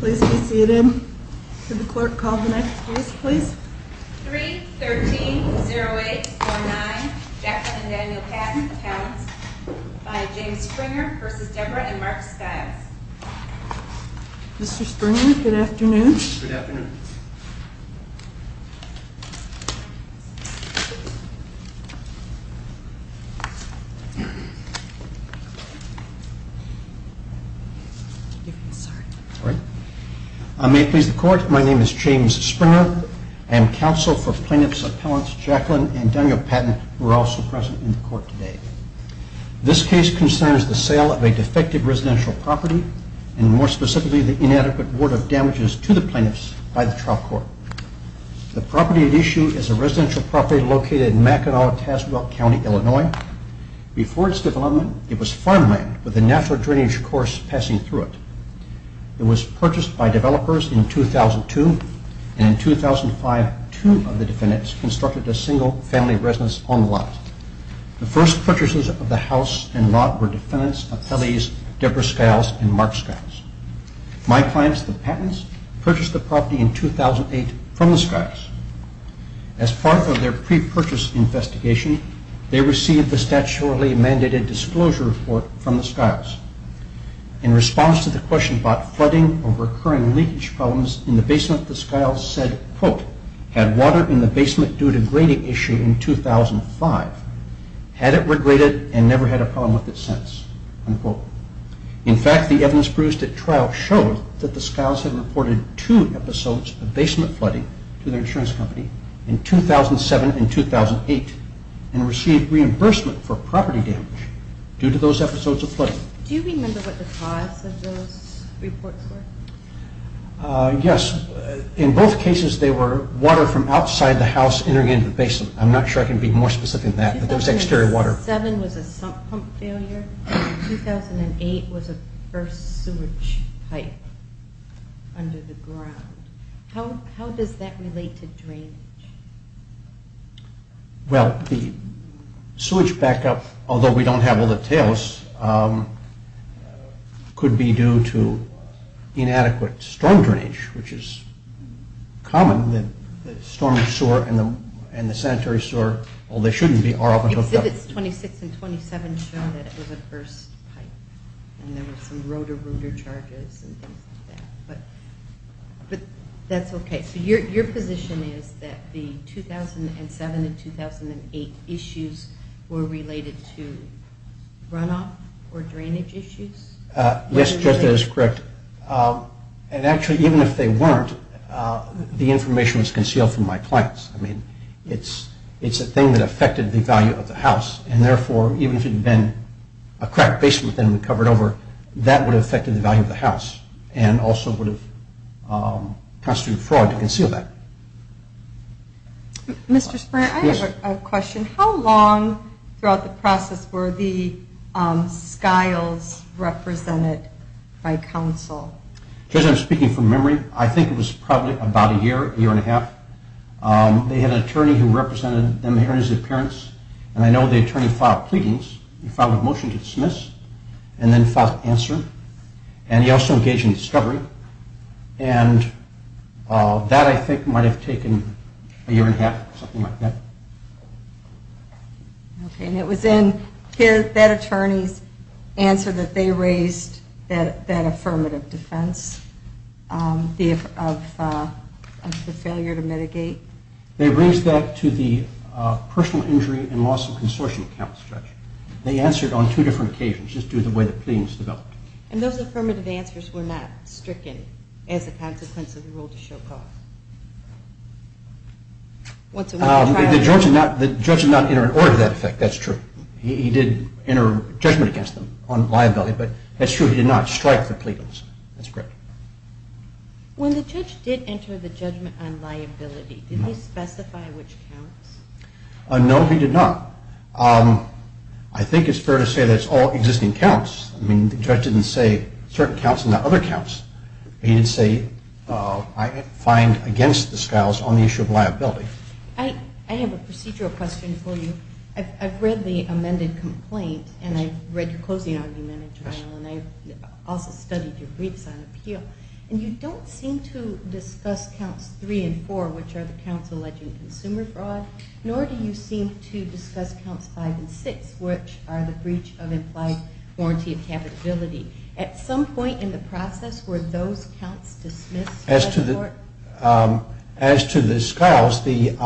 Please be seated. Could the clerk call the next case, please? 3-13-0849, Jacqueline and Daniel Patten, Towns, by James Springer v. Deborah and Mark Skiles. Mr. Springer, good afternoon. Good afternoon. I may please the court. My name is James Springer. I am counsel for plaintiffs' appellants Jacqueline and Daniel Patten, who are also present in the court today. This case concerns the sale of a defective residential property, and more specifically, the inadequate word of damages to the plaintiffs by the trial court. The property at issue is a residential property located in Mackinac, Tazewell County, Illinois. Before its development, it was farmland, with a natural drainage course passing through it. It was purchased by developers in 2002, and in 2005, two of the defendants constructed a single family residence on the lot. The first purchases of the house and lot were defendants' appellees, Deborah Skiles and Mark Skiles. My clients, the Pattens, purchased the property in 2008 from the Skiles. As part of their pre-purchase investigation, they received the statutorily mandated disclosure report from the Skiles. In response to the question about flooding or recurring leakage problems in the basement, the Skiles said, quote, had water in the basement due to grading issue in 2005, had it regraded, and never had a problem with it since, unquote. In fact, the evidence produced at trial showed that the Skiles had reported two episodes of basement flooding to their insurance company in 2007 and 2008 and received reimbursement for property damage due to those episodes of flooding. Do you remember what the cause of those reports were? Yes. In both cases, they were water from outside the house entering into the basement. I'm not sure I can be more specific than that, but it was exterior water. 2007 was a sump pump failure. 2008 was a first sewage pipe under the ground. How does that relate to drainage? Well, the sewage backup, although we don't have all the details, could be due to inadequate storm drainage, which is common. The storm sewer and the sanitary sewer, although they shouldn't be, are often hooked up. Exhibits 26 and 27 show that it was a burst pipe and there were some rotor-rooter charges and things like that. But that's okay. So your position is that the 2007 and 2008 issues were related to runoff or drainage issues? Yes, that is correct. And actually, even if they weren't, the information was concealed from my clients. I mean, it's a thing that affected the value of the house, and therefore, even if it had been a cracked basement that had been covered over, that would have affected the value of the house and also would have constituted fraud to conceal that. Mr. Spray, I have a question. How long throughout the process were the skiles represented by counsel? As far as I'm speaking from memory, I think it was probably about a year, a year and a half. They had an attorney who represented them here in his appearance, and I know the attorney filed pleadings. He filed a motion to dismiss and then filed an answer. And he also engaged in discovery. And that, I think, might have taken a year and a half, something like that. Okay, and it was in that attorney's answer that they raised that affirmative defense of the failure to mitigate? They raised that to the personal injury and loss of consortium accounts, Judge. They answered on two different occasions, just due to the way the pleadings developed. And those affirmative answers were not stricken as a consequence of the rule to show cause? The judge did not enter an order to that effect. That's true. He did enter judgment against them on liability, but that's true. He did not strike the pleadings. That's correct. When the judge did enter the judgment on liability, did he specify which counts? No, he did not. I think it's fair to say that it's all existing counts. I mean, the judge didn't say certain counts and not other counts. He did say, I find against the Skiles on the issue of liability. I have a procedural question for you. I've read the amended complaint, and I've read your closing argument in trial, and I also studied your briefs on appeal. And you don't seem to discuss counts three and four, which are the counts alleging consumer fraud, nor do you seem to discuss counts five and six, which are the breach of implied warranty of capitability. At some point in the process, were those counts dismissed by the court? As to the Skiles, the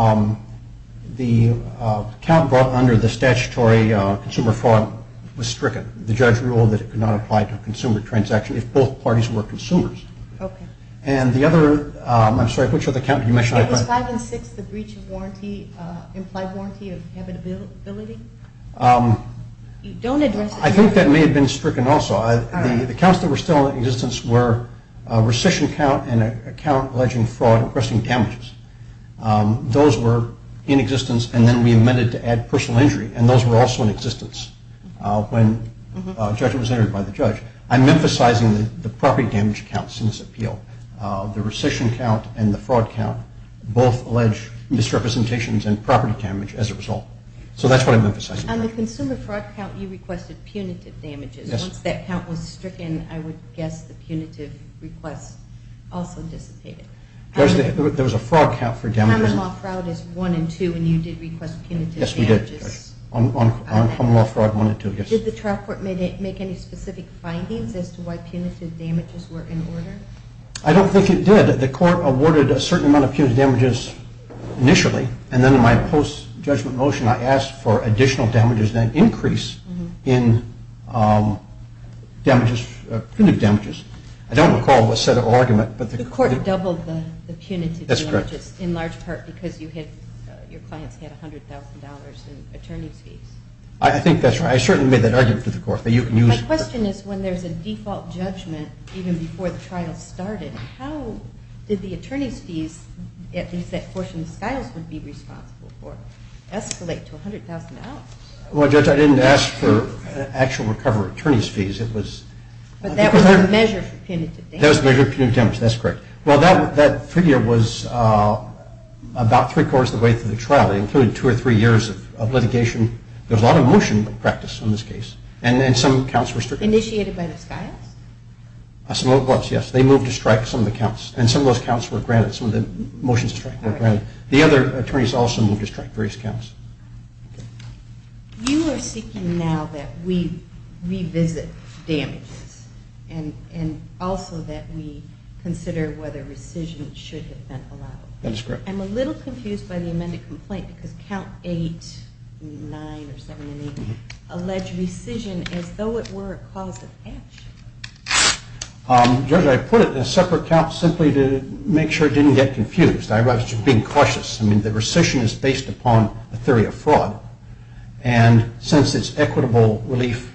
count under the statutory consumer fraud was stricken. The judge ruled that it could not apply to a consumer transaction if both parties were consumers. Okay. And the other, I'm sorry, which other count did you mention? It was five and six, the breach of warranty, implied warranty of habitability. Don't address it. I think that may have been stricken also. The counts that were still in existence were rescission count and a count alleging fraud and requesting damages. Those were in existence, and then we amended to add personal injury, and those were also in existence when a judgment was entered by the judge. I'm emphasizing the property damage counts in this appeal. The rescission count and the fraud count both allege misrepresentations and property damage as a result. So that's what I'm emphasizing. On the consumer fraud count, you requested punitive damages. Once that count was stricken, I would guess the punitive requests also dissipated. There was a fraud count for damages. Common law fraud is one and two, and you did request punitive damages. Yes, we did. On common law fraud, one and two, yes. Did the trial court make any specific findings as to why punitive damages were in order? I don't think it did. The court awarded a certain amount of punitive damages initially, and then in my post-judgment motion, I asked for additional damages, an increase in damages, punitive damages. I don't recall what set of argument, but the court did. The court doubled the punitive damages. That's correct. In large part because your clients had $100,000 in attorney's fees. I think that's right. I certainly made that argument to the court that you can use. My question is when there's a default judgment even before the trial started, how did the attorney's fees, at least that portion the Skiles would be responsible for, escalate to $100,000? Well, Judge, I didn't ask for actual recovery attorney's fees. But that was the measure for punitive damages. That was the measure for punitive damages. That's correct. Well, that figure was about three-quarters of the way through the trial. It included two or three years of litigation. There was a lot of motion practice in this case, and some counts were strict. Initiated by the Skiles? Yes. They moved to strike some of the counts, and some of those counts were granted. Some of the motions were granted. The other attorneys also moved to strike various counts. Okay. You are seeking now that we revisit damages and also that we consider whether rescission should have been allowed. That is correct. I'm a little confused by the amended complaint because Count 8, 9, or 7 and 8 allege rescission as though it were a cause of action. Judge, I put it in a separate count simply to make sure it didn't get confused. I was just being cautious. I mean, the rescission is based upon a theory of fraud. And since it's equitable relief,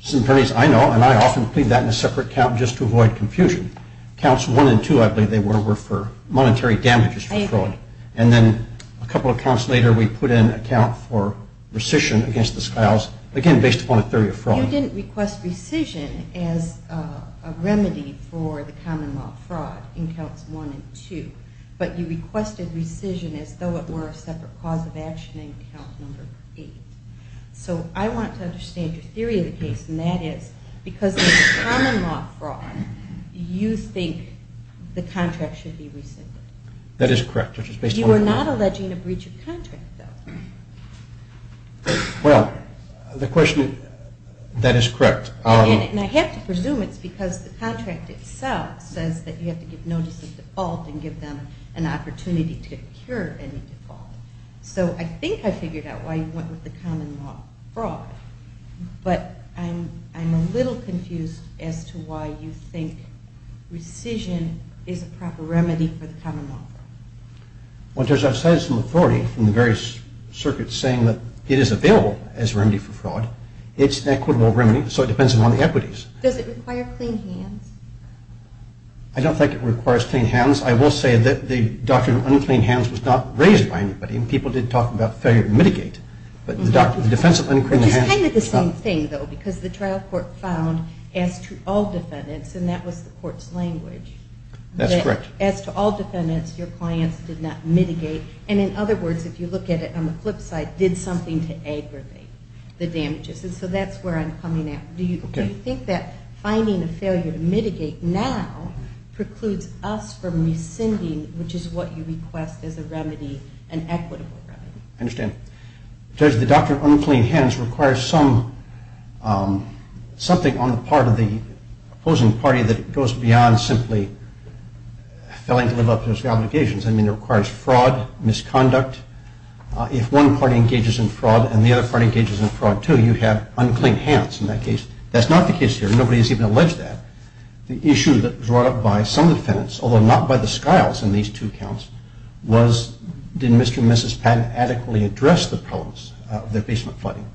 some attorneys I know and I often plead that in a separate count just to avoid confusion. Counts 1 and 2, I believe they were, were for monetary damages for fraud. And then a couple of counts later, we put in a count for rescission against the Skiles, again, based upon a theory of fraud. You didn't request rescission as a remedy for the common law fraud in Counts 1 and 2, but you requested rescission as though it were a separate cause of action in Count 8. So I want to understand your theory of the case, and that is because of the common law fraud, you think the contract should be rescinded. That is correct. You are not alleging a breach of contract, though. Well, the question, that is correct. And I have to presume it's because the contract itself says that you have to give notice of default and give them an opportunity to incur any default. So I think I figured out why you went with the common law fraud, but I'm a little confused as to why you think rescission is a proper remedy for the common law fraud. Well, it turns out, aside from the authority from the various circuits saying that it is available as a remedy for fraud, it's an equitable remedy, so it depends upon the equities. Does it require clean hands? I don't think it requires clean hands. I will say that the doctrine of unclean hands was not raised by anybody, and people did talk about failure to mitigate, but the defense of unclean hands... Which is kind of the same thing, though, because the trial court found, as to all defendants, and that was the court's language... That's correct. As to all defendants, your clients did not mitigate. And in other words, if you look at it on the flip side, did something to aggravate the damages. And so that's where I'm coming at. Do you think that finding a failure to mitigate now precludes us from rescinding, which is what you request as a remedy, an equitable remedy? I understand. Judge, the doctrine of unclean hands requires something on the part of the opposing party that goes beyond simply failing to live up to its obligations. I mean, it requires fraud, misconduct. If one party engages in fraud and the other party engages in fraud, too, you have unclean hands in that case. That's not the case here. Nobody has even alleged that. The issue that was brought up by some defendants, although not by the Skiles in these two counts, was did Mr. and Mrs. Patton adequately address the problems of their basement flooding.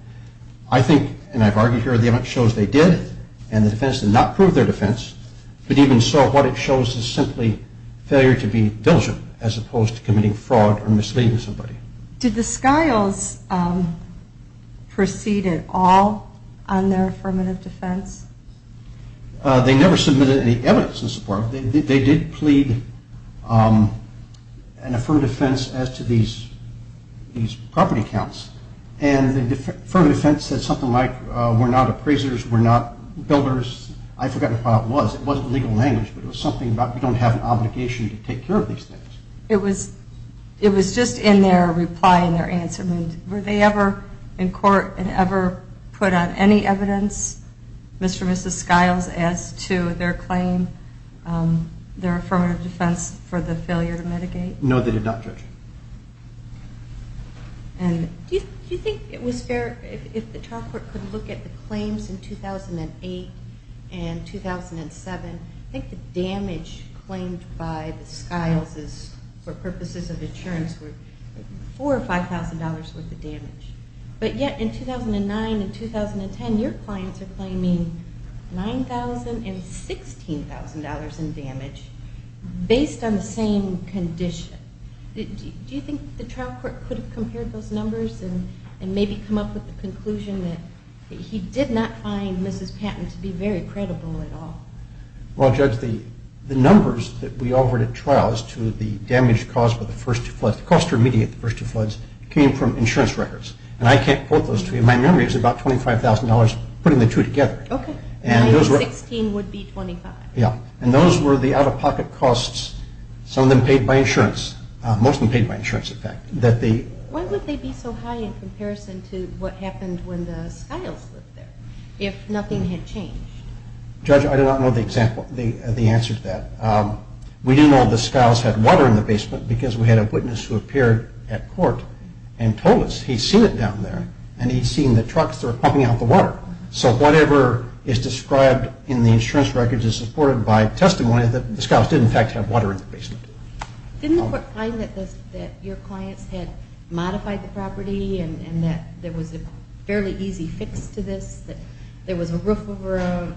I think, and I've argued here, the evidence shows they did, and the defense did not prove their defense. But even so, what it shows is simply failure to be diligent as opposed to committing fraud or misleading somebody. Did the Skiles proceed at all on their affirmative defense? They never submitted any evidence in support. They did plead an affirmative defense as to these property counts, and the affirmative defense said something like we're not appraisers, we're not builders. I forget what it was. It wasn't legal language, but it was something about we don't have an obligation to take care of these things. It was just in their reply and their answer. Were they ever in court and ever put on any evidence, Mr. and Mrs. Skiles, as to their claim, their affirmative defense for the failure to mitigate? No, they did not, Judge. Do you think it was fair, if the trial court could look at the claims in 2008 and 2007, I think the damage claimed by the Skiles for purposes of insurance was $4,000 or $5,000 worth of damage. But yet in 2009 and 2010, your clients are claiming $9,000 and $16,000 in damage based on the same condition. Do you think the trial court could have compared those numbers and maybe come up with the conclusion that he did not find Mrs. Patton to be very credible at all? Well, Judge, the numbers that we offered at trial as to the damage caused by the first two floods, the cost to remediate the first two floods, came from insurance records. And I can't quote those to you. My memory is about $25,000, putting the two together. Okay. $9,000 and $16,000 would be $25,000. Yeah. And those were the out-of-pocket costs, some of them paid by insurance, most of them paid by insurance, in fact. Why would they be so high in comparison to what happened when the Skiles lived there, if nothing had changed? Judge, I do not know the answer to that. We do know the Skiles had water in the basement because we had a witness who appeared at court and told us he'd seen it down there and he'd seen the trucks that were pumping out the water. So whatever is described in the insurance records is supported by testimony that the Skiles did, in fact, have water in the basement. Didn't the court find that your clients had modified the property and that there was a fairly easy fix to this, that there was a roof over a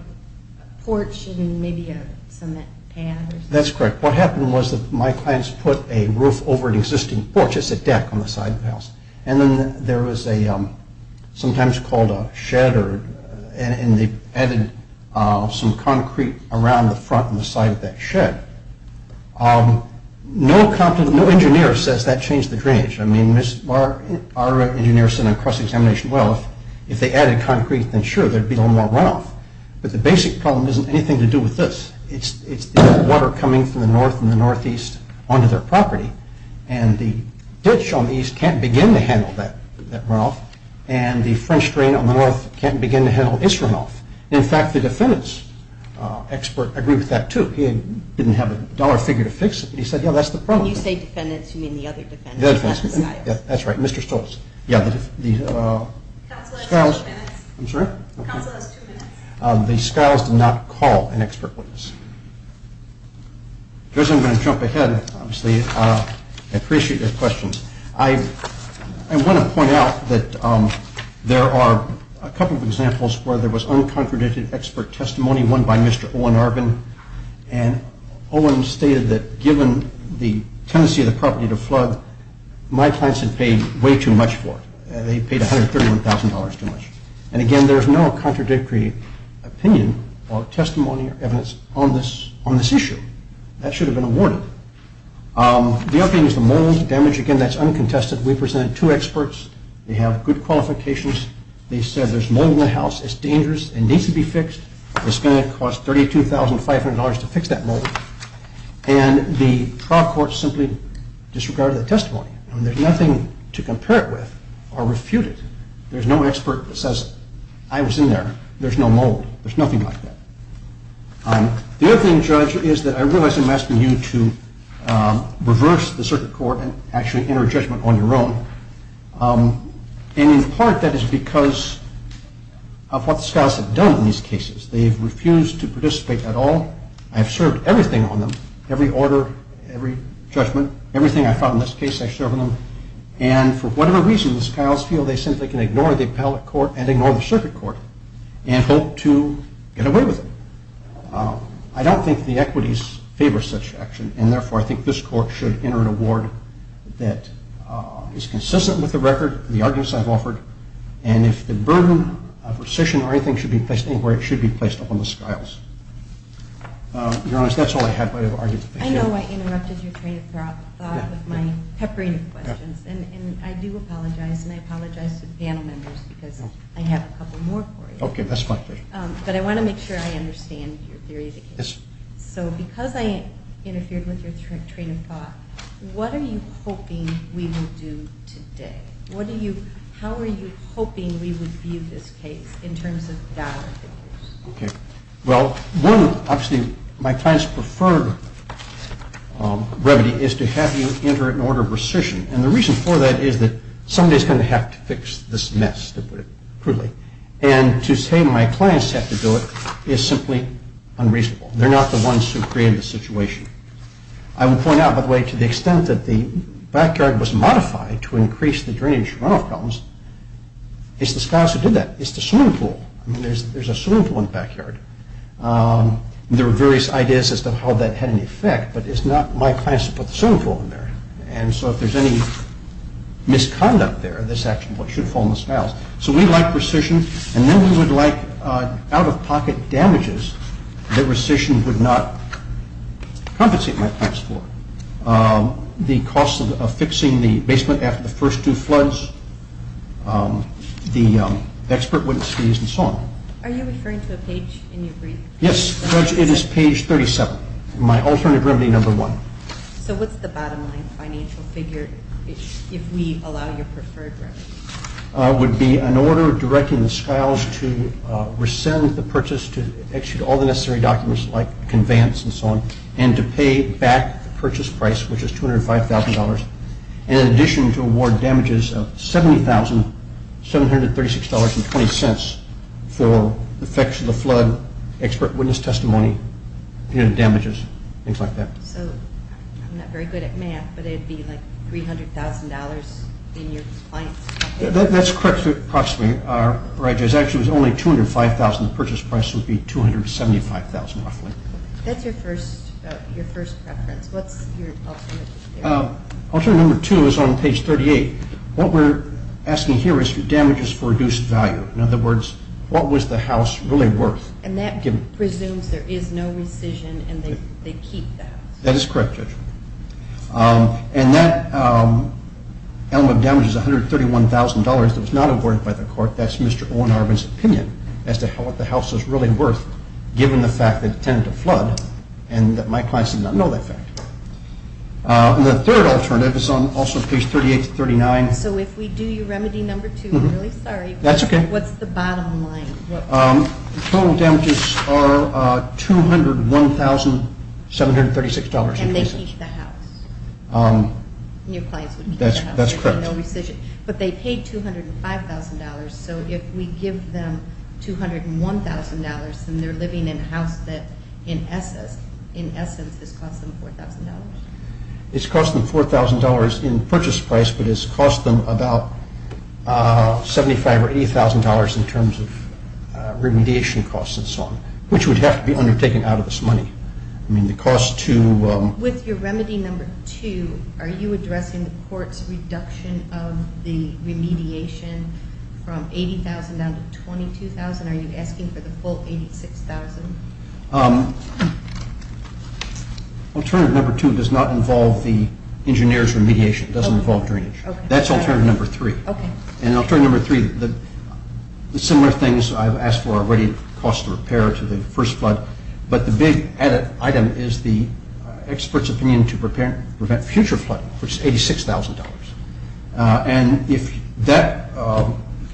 porch and maybe a cement path or something? That's correct. What happened was that my clients put a roof over an existing porch. And then there was a, sometimes called a shed, and they added some concrete around the front and the side of that shed. No engineer says that changed the drainage. I mean, our engineers said on cross-examination, well, if they added concrete, then sure, there'd be a little more runoff. But the basic problem isn't anything to do with this. It's the water coming from the north and the northeast onto their property. And the ditch on the east can't begin to handle that runoff. And the French drain on the north can't begin to handle its runoff. In fact, the defendants' expert agreed with that, too. He didn't have a dollar figure to fix it, but he said, yeah, that's the problem. When you say defendants, you mean the other defendants, not the Skiles. That's right, Mr. Stoltz. Counsel has two minutes. I'm sorry? Counsel has two minutes. The Skiles did not call an expert witness. Judge, I'm going to jump ahead, obviously. I appreciate your questions. I want to point out that there are a couple of examples where there was uncontradicted expert testimony, one by Mr. Owen Arvin. And Owen stated that given the tendency of the property to flood, my clients had paid way too much for it. They paid $131,000 too much. And again, there is no contradictory opinion or testimony or evidence on this issue. That should have been a warning. The other thing is the mold damage. Again, that's uncontested. We presented two experts. They have good qualifications. They said there's mold in the house. It's dangerous. It needs to be fixed. It's going to cost $32,500 to fix that mold. And the trial court simply disregarded the testimony. There's nothing to compare it with or refute it. There's no expert that says, I was in there. There's no mold. There's nothing like that. The other thing, Judge, is that I realize I'm asking you to reverse the circuit court and actually enter judgment on your own. And in part that is because of what the Skiles have done in these cases. They have refused to participate at all. I have served everything on them, every order, every judgment. Everything I found in this case I served on them. And for whatever reason, the Skiles feel they simply can ignore the appellate court and ignore the circuit court and hope to get away with it. I don't think the equities favor such action, and therefore I think this court should enter an award that is consistent with the record, the arguments I've offered, and if the burden of rescission or anything should be placed anywhere, it should be placed upon the Skiles. Your Honor, that's all I have. I have arguments. I know I interrupted your train of thought with my peppering questions, and I do apologize, and I apologize to the panel members because I have a couple more for you. Okay, that's fine. But I want to make sure I understand your theory of the case. So because I interfered with your train of thought, what are you hoping we will do today? How are you hoping we would view this case in terms of dollar figures? Well, one, obviously, my client's preferred remedy is to have you enter an order of rescission, and the reason for that is that somebody is going to have to fix this mess, to put it crudely, and to say my clients have to do it is simply unreasonable. They're not the ones who created the situation. I will point out, by the way, to the extent that the backyard was modified to increase the drainage runoff problems, it's the Skiles who did that. It's the swimming pool. I mean, there's a swimming pool in the backyard. There were various ideas as to how that had an effect, but it's not my client's to put the swimming pool in there, and so if there's any misconduct there, this action should fall on the Skiles. So we like rescission, and then we would like out-of-pocket damages that rescission would not compensate my clients for. The cost of fixing the basement after the first two floods, the expert witness fees and so on. Are you referring to a page in your brief? Yes, Judge, it is page 37, my alternative remedy number one. So what's the bottom line financial figure if we allow your preferred remedy? It would be an order directing the Skiles to rescind the purchase, to execute all the necessary documents like conveyance and so on, and to pay back the purchase price, which is $205,000, and in addition to award damages of $70,736.20 for the effects of the flood, expert witness testimony, punitive damages, things like that. So I'm not very good at math, but it would be like $300,000 in your client's pocket? That's correct approximately. Actually, it was only $205,000. The purchase price would be $275,000 roughly. That's your first preference. What's your alternative? Alternative number two is on page 38. What we're asking here is for damages for reduced value. In other words, what was the house really worth? And that presumes there is no rescission and they keep the house. That is correct, Judge. And that element of damage is $131,000 that was not awarded by the court. That's Mr. Owen Arvin's opinion as to what the house was really worth given the fact that it tended to flood and that my clients did not know that fact. The third alternative is on also page 38-39. So if we do your remedy number two, I'm really sorry. That's okay. What's the bottom line? Total damages are $201,736. And they keep the house. Your clients would keep the house. That's correct. But they paid $205,000, so if we give them $201,000 and they're living in a house that in essence has cost them $4,000. It's cost them $4,000 in purchase price, but it's cost them about $75,000 or $80,000 in terms of remediation costs and so on, which would have to be undertaken out of this money. I mean, the cost to With your remedy number two, are you addressing the court's reduction of the remediation from $80,000 down to $22,000? Are you asking for the full $86,000? Alternative number two does not involve the engineer's remediation. It doesn't involve drainage. That's alternative number three. And alternative number three, the similar things I've asked for already, cost of repair to the first flood, but the big added item is the expert's opinion to prevent future flooding, which is $86,000. And if that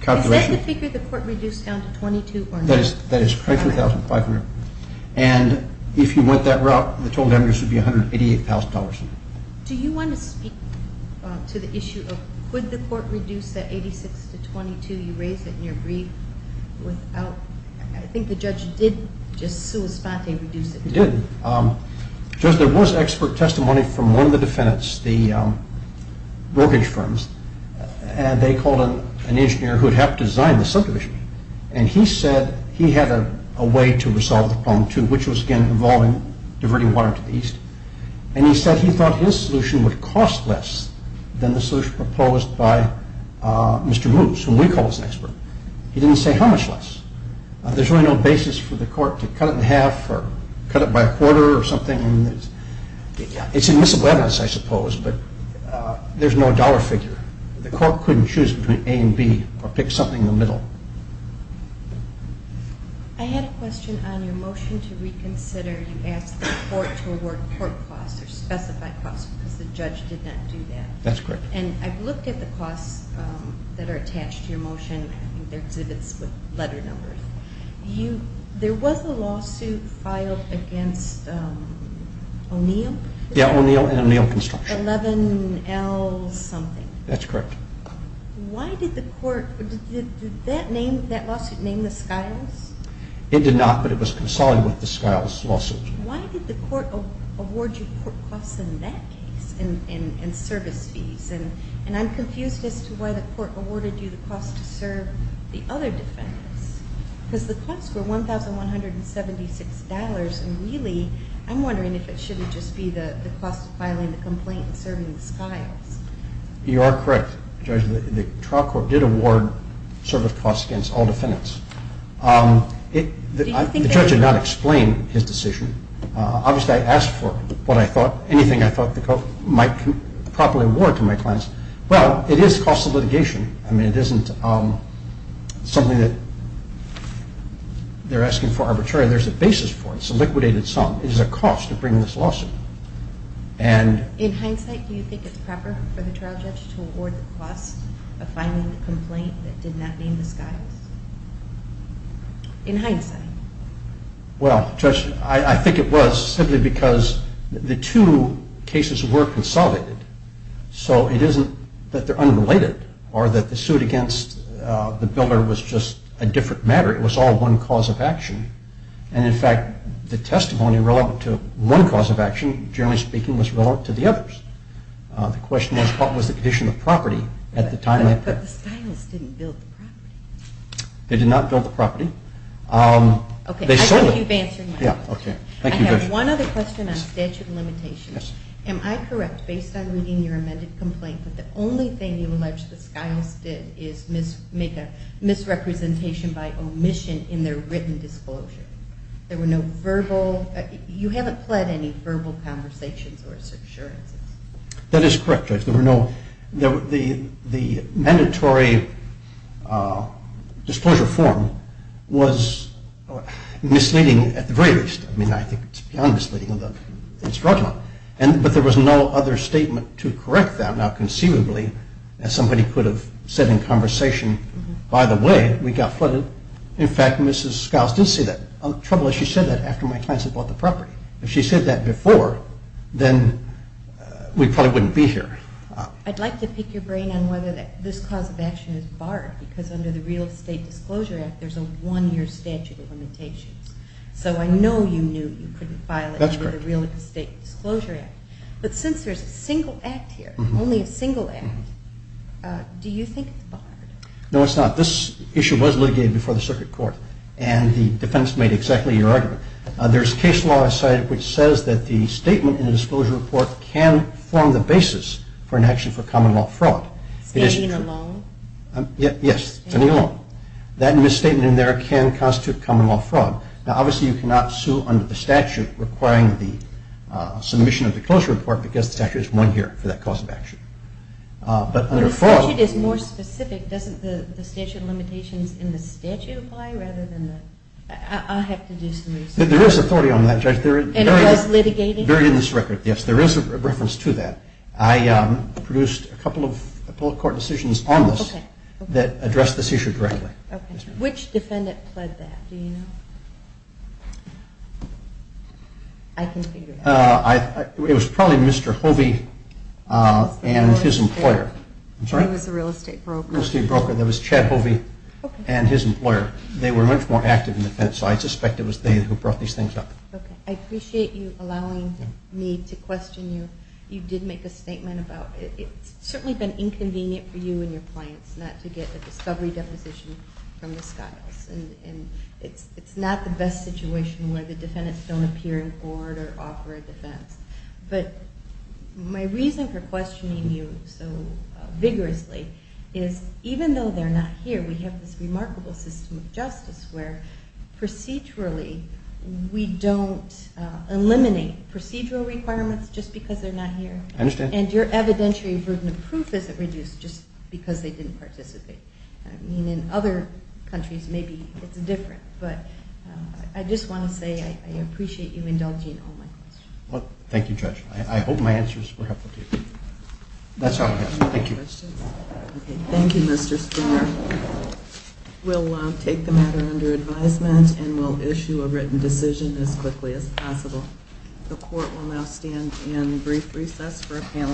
calculation Is that the figure the court reduced down to $22,000 or not? That is $32,500. And if you went that route, the total damages would be $188,000. Do you want to speak to the issue of could the court reduce that $86,000 to $22,000? You raised it in your brief. I think the judge did just sua sponte reduce it. He did. Judge, there was expert testimony from one of the defendants, the brokerage firms, and they called an engineer who had helped design the subdivision. And he said he had a way to resolve the problem too, which was again involving diverting water to the east. And he said he thought his solution would cost less than the solution proposed by Mr. Moose, whom we call as an expert. He didn't say how much less. There's really no basis for the court to cut it in half or cut it by a quarter or something. It's admissible evidence, I suppose, but there's no dollar figure. The court couldn't choose between A and B or pick something in the middle. I had a question on your motion to reconsider. You asked the court to award court costs or specified costs because the judge did not do that. That's correct. And I've looked at the costs that are attached to your motion. I think they're exhibits with letter numbers. There was a lawsuit filed against O'Neill. Yeah, O'Neill and O'Neill Construction. 11L something. That's correct. Why did the court, did that lawsuit name the Skiles? It did not, but it was consolidated with the Skiles lawsuit. Why did the court award you court costs in that case and service fees? And I'm confused as to why the court awarded you the cost to serve the other defendants because the costs were $1,176. And really, I'm wondering if it shouldn't just be the cost of filing the complaint and serving the Skiles. You are correct, Judge. The trial court did award service costs against all defendants. The judge did not explain his decision. Obviously, I asked for anything I thought the court might properly award to my clients. Well, it is cost of litigation. I mean, it isn't something that they're asking for arbitrarily. There's a basis for it. It's a liquidated sum. It is a cost to bring this lawsuit. In hindsight, do you think it's proper for the trial judge to award the cost of filing the complaint that did not name the Skiles? In hindsight? Well, Judge, I think it was simply because the two cases were consolidated. So it isn't that they're unrelated or that the suit against the builder was just a different matter. It was all one cause of action. And, in fact, the testimony relevant to one cause of action, generally speaking, was relevant to the others. The question was what was the condition of property at the time. But the Skiles didn't build the property. They did not build the property. Okay. They sold it. I think you've answered my question. Yeah, okay. Thank you, Judge. I have one other question on statute of limitations. Yes. Am I correct, based on reading your amended complaint, that the only thing you allege the Skiles did is make a misrepresentation by omission in their written disclosure? There were no verbal – you haven't pled any verbal conversations or assurances. That is correct, Judge. The mandatory disclosure form was misleading, at the very least. I mean, I think it's beyond misleading. It's fraudulent. But there was no other statement to correct that. Now, conceivably, as somebody could have said in conversation, by the way, we got flooded. In fact, Mrs. Skiles did say that. Trouble is, she said that after my clients had bought the property. If she said that before, then we probably wouldn't be here. I'd like to pick your brain on whether this cause of action is barred, because under the Real Estate Disclosure Act, there's a one-year statute of limitations. So I know you knew you couldn't file it under the Real Estate Disclosure Act. But since there's a single act here, only a single act, do you think it's barred? No, it's not. This issue was litigated before the circuit court, and the defense made exactly your argument. There's case law cited which says that the statement in the disclosure report can form the basis for an action for common-law fraud. Standing alone? Yes, standing alone. That misstatement in there can constitute common-law fraud. Now, obviously, you cannot sue under the statute requiring the submission of the disclosure report, because the statute is one-year for that cause of action. But under fraud- Well, the statute is more specific. Doesn't the statute of limitations in the statute apply rather than the- I'll have to do some research. There is authority on that, Judge. And it was litigated? Very in this record, yes. There is a reference to that. I produced a couple of public court decisions on this that address this issue directly. Which defendant pled that, do you know? I can figure it out. It was probably Mr. Hovey and his employer. He was a real estate broker. Real estate broker. It was Chad Hovey and his employer. They were much more active in the defense, so I suspect it was they who brought these things up. Okay. I appreciate you allowing me to question you. You did make a statement about it. It's certainly been inconvenient for you and your clients not to get a discovery deposition from the Skiles. And it's not the best situation where the defendants don't appear in court or offer a defense. But my reason for questioning you so vigorously is, even though they're not here, we have this remarkable system of justice where procedurally we don't eliminate procedural requirements just because they're not here. I understand. And your evidentiary burden of proof isn't reduced just because they didn't participate. I mean, in other countries maybe it's different. But I just want to say I appreciate you indulging in all my questions. Well, thank you, Judge. I hope my answers were helpful to you. That's all I have. Thank you. Any other questions? Okay. Thank you, Mr. Stringer. We'll take the matter under advisement and we'll issue a written decision as quickly as possible. The court will now stand in brief recess for a panel.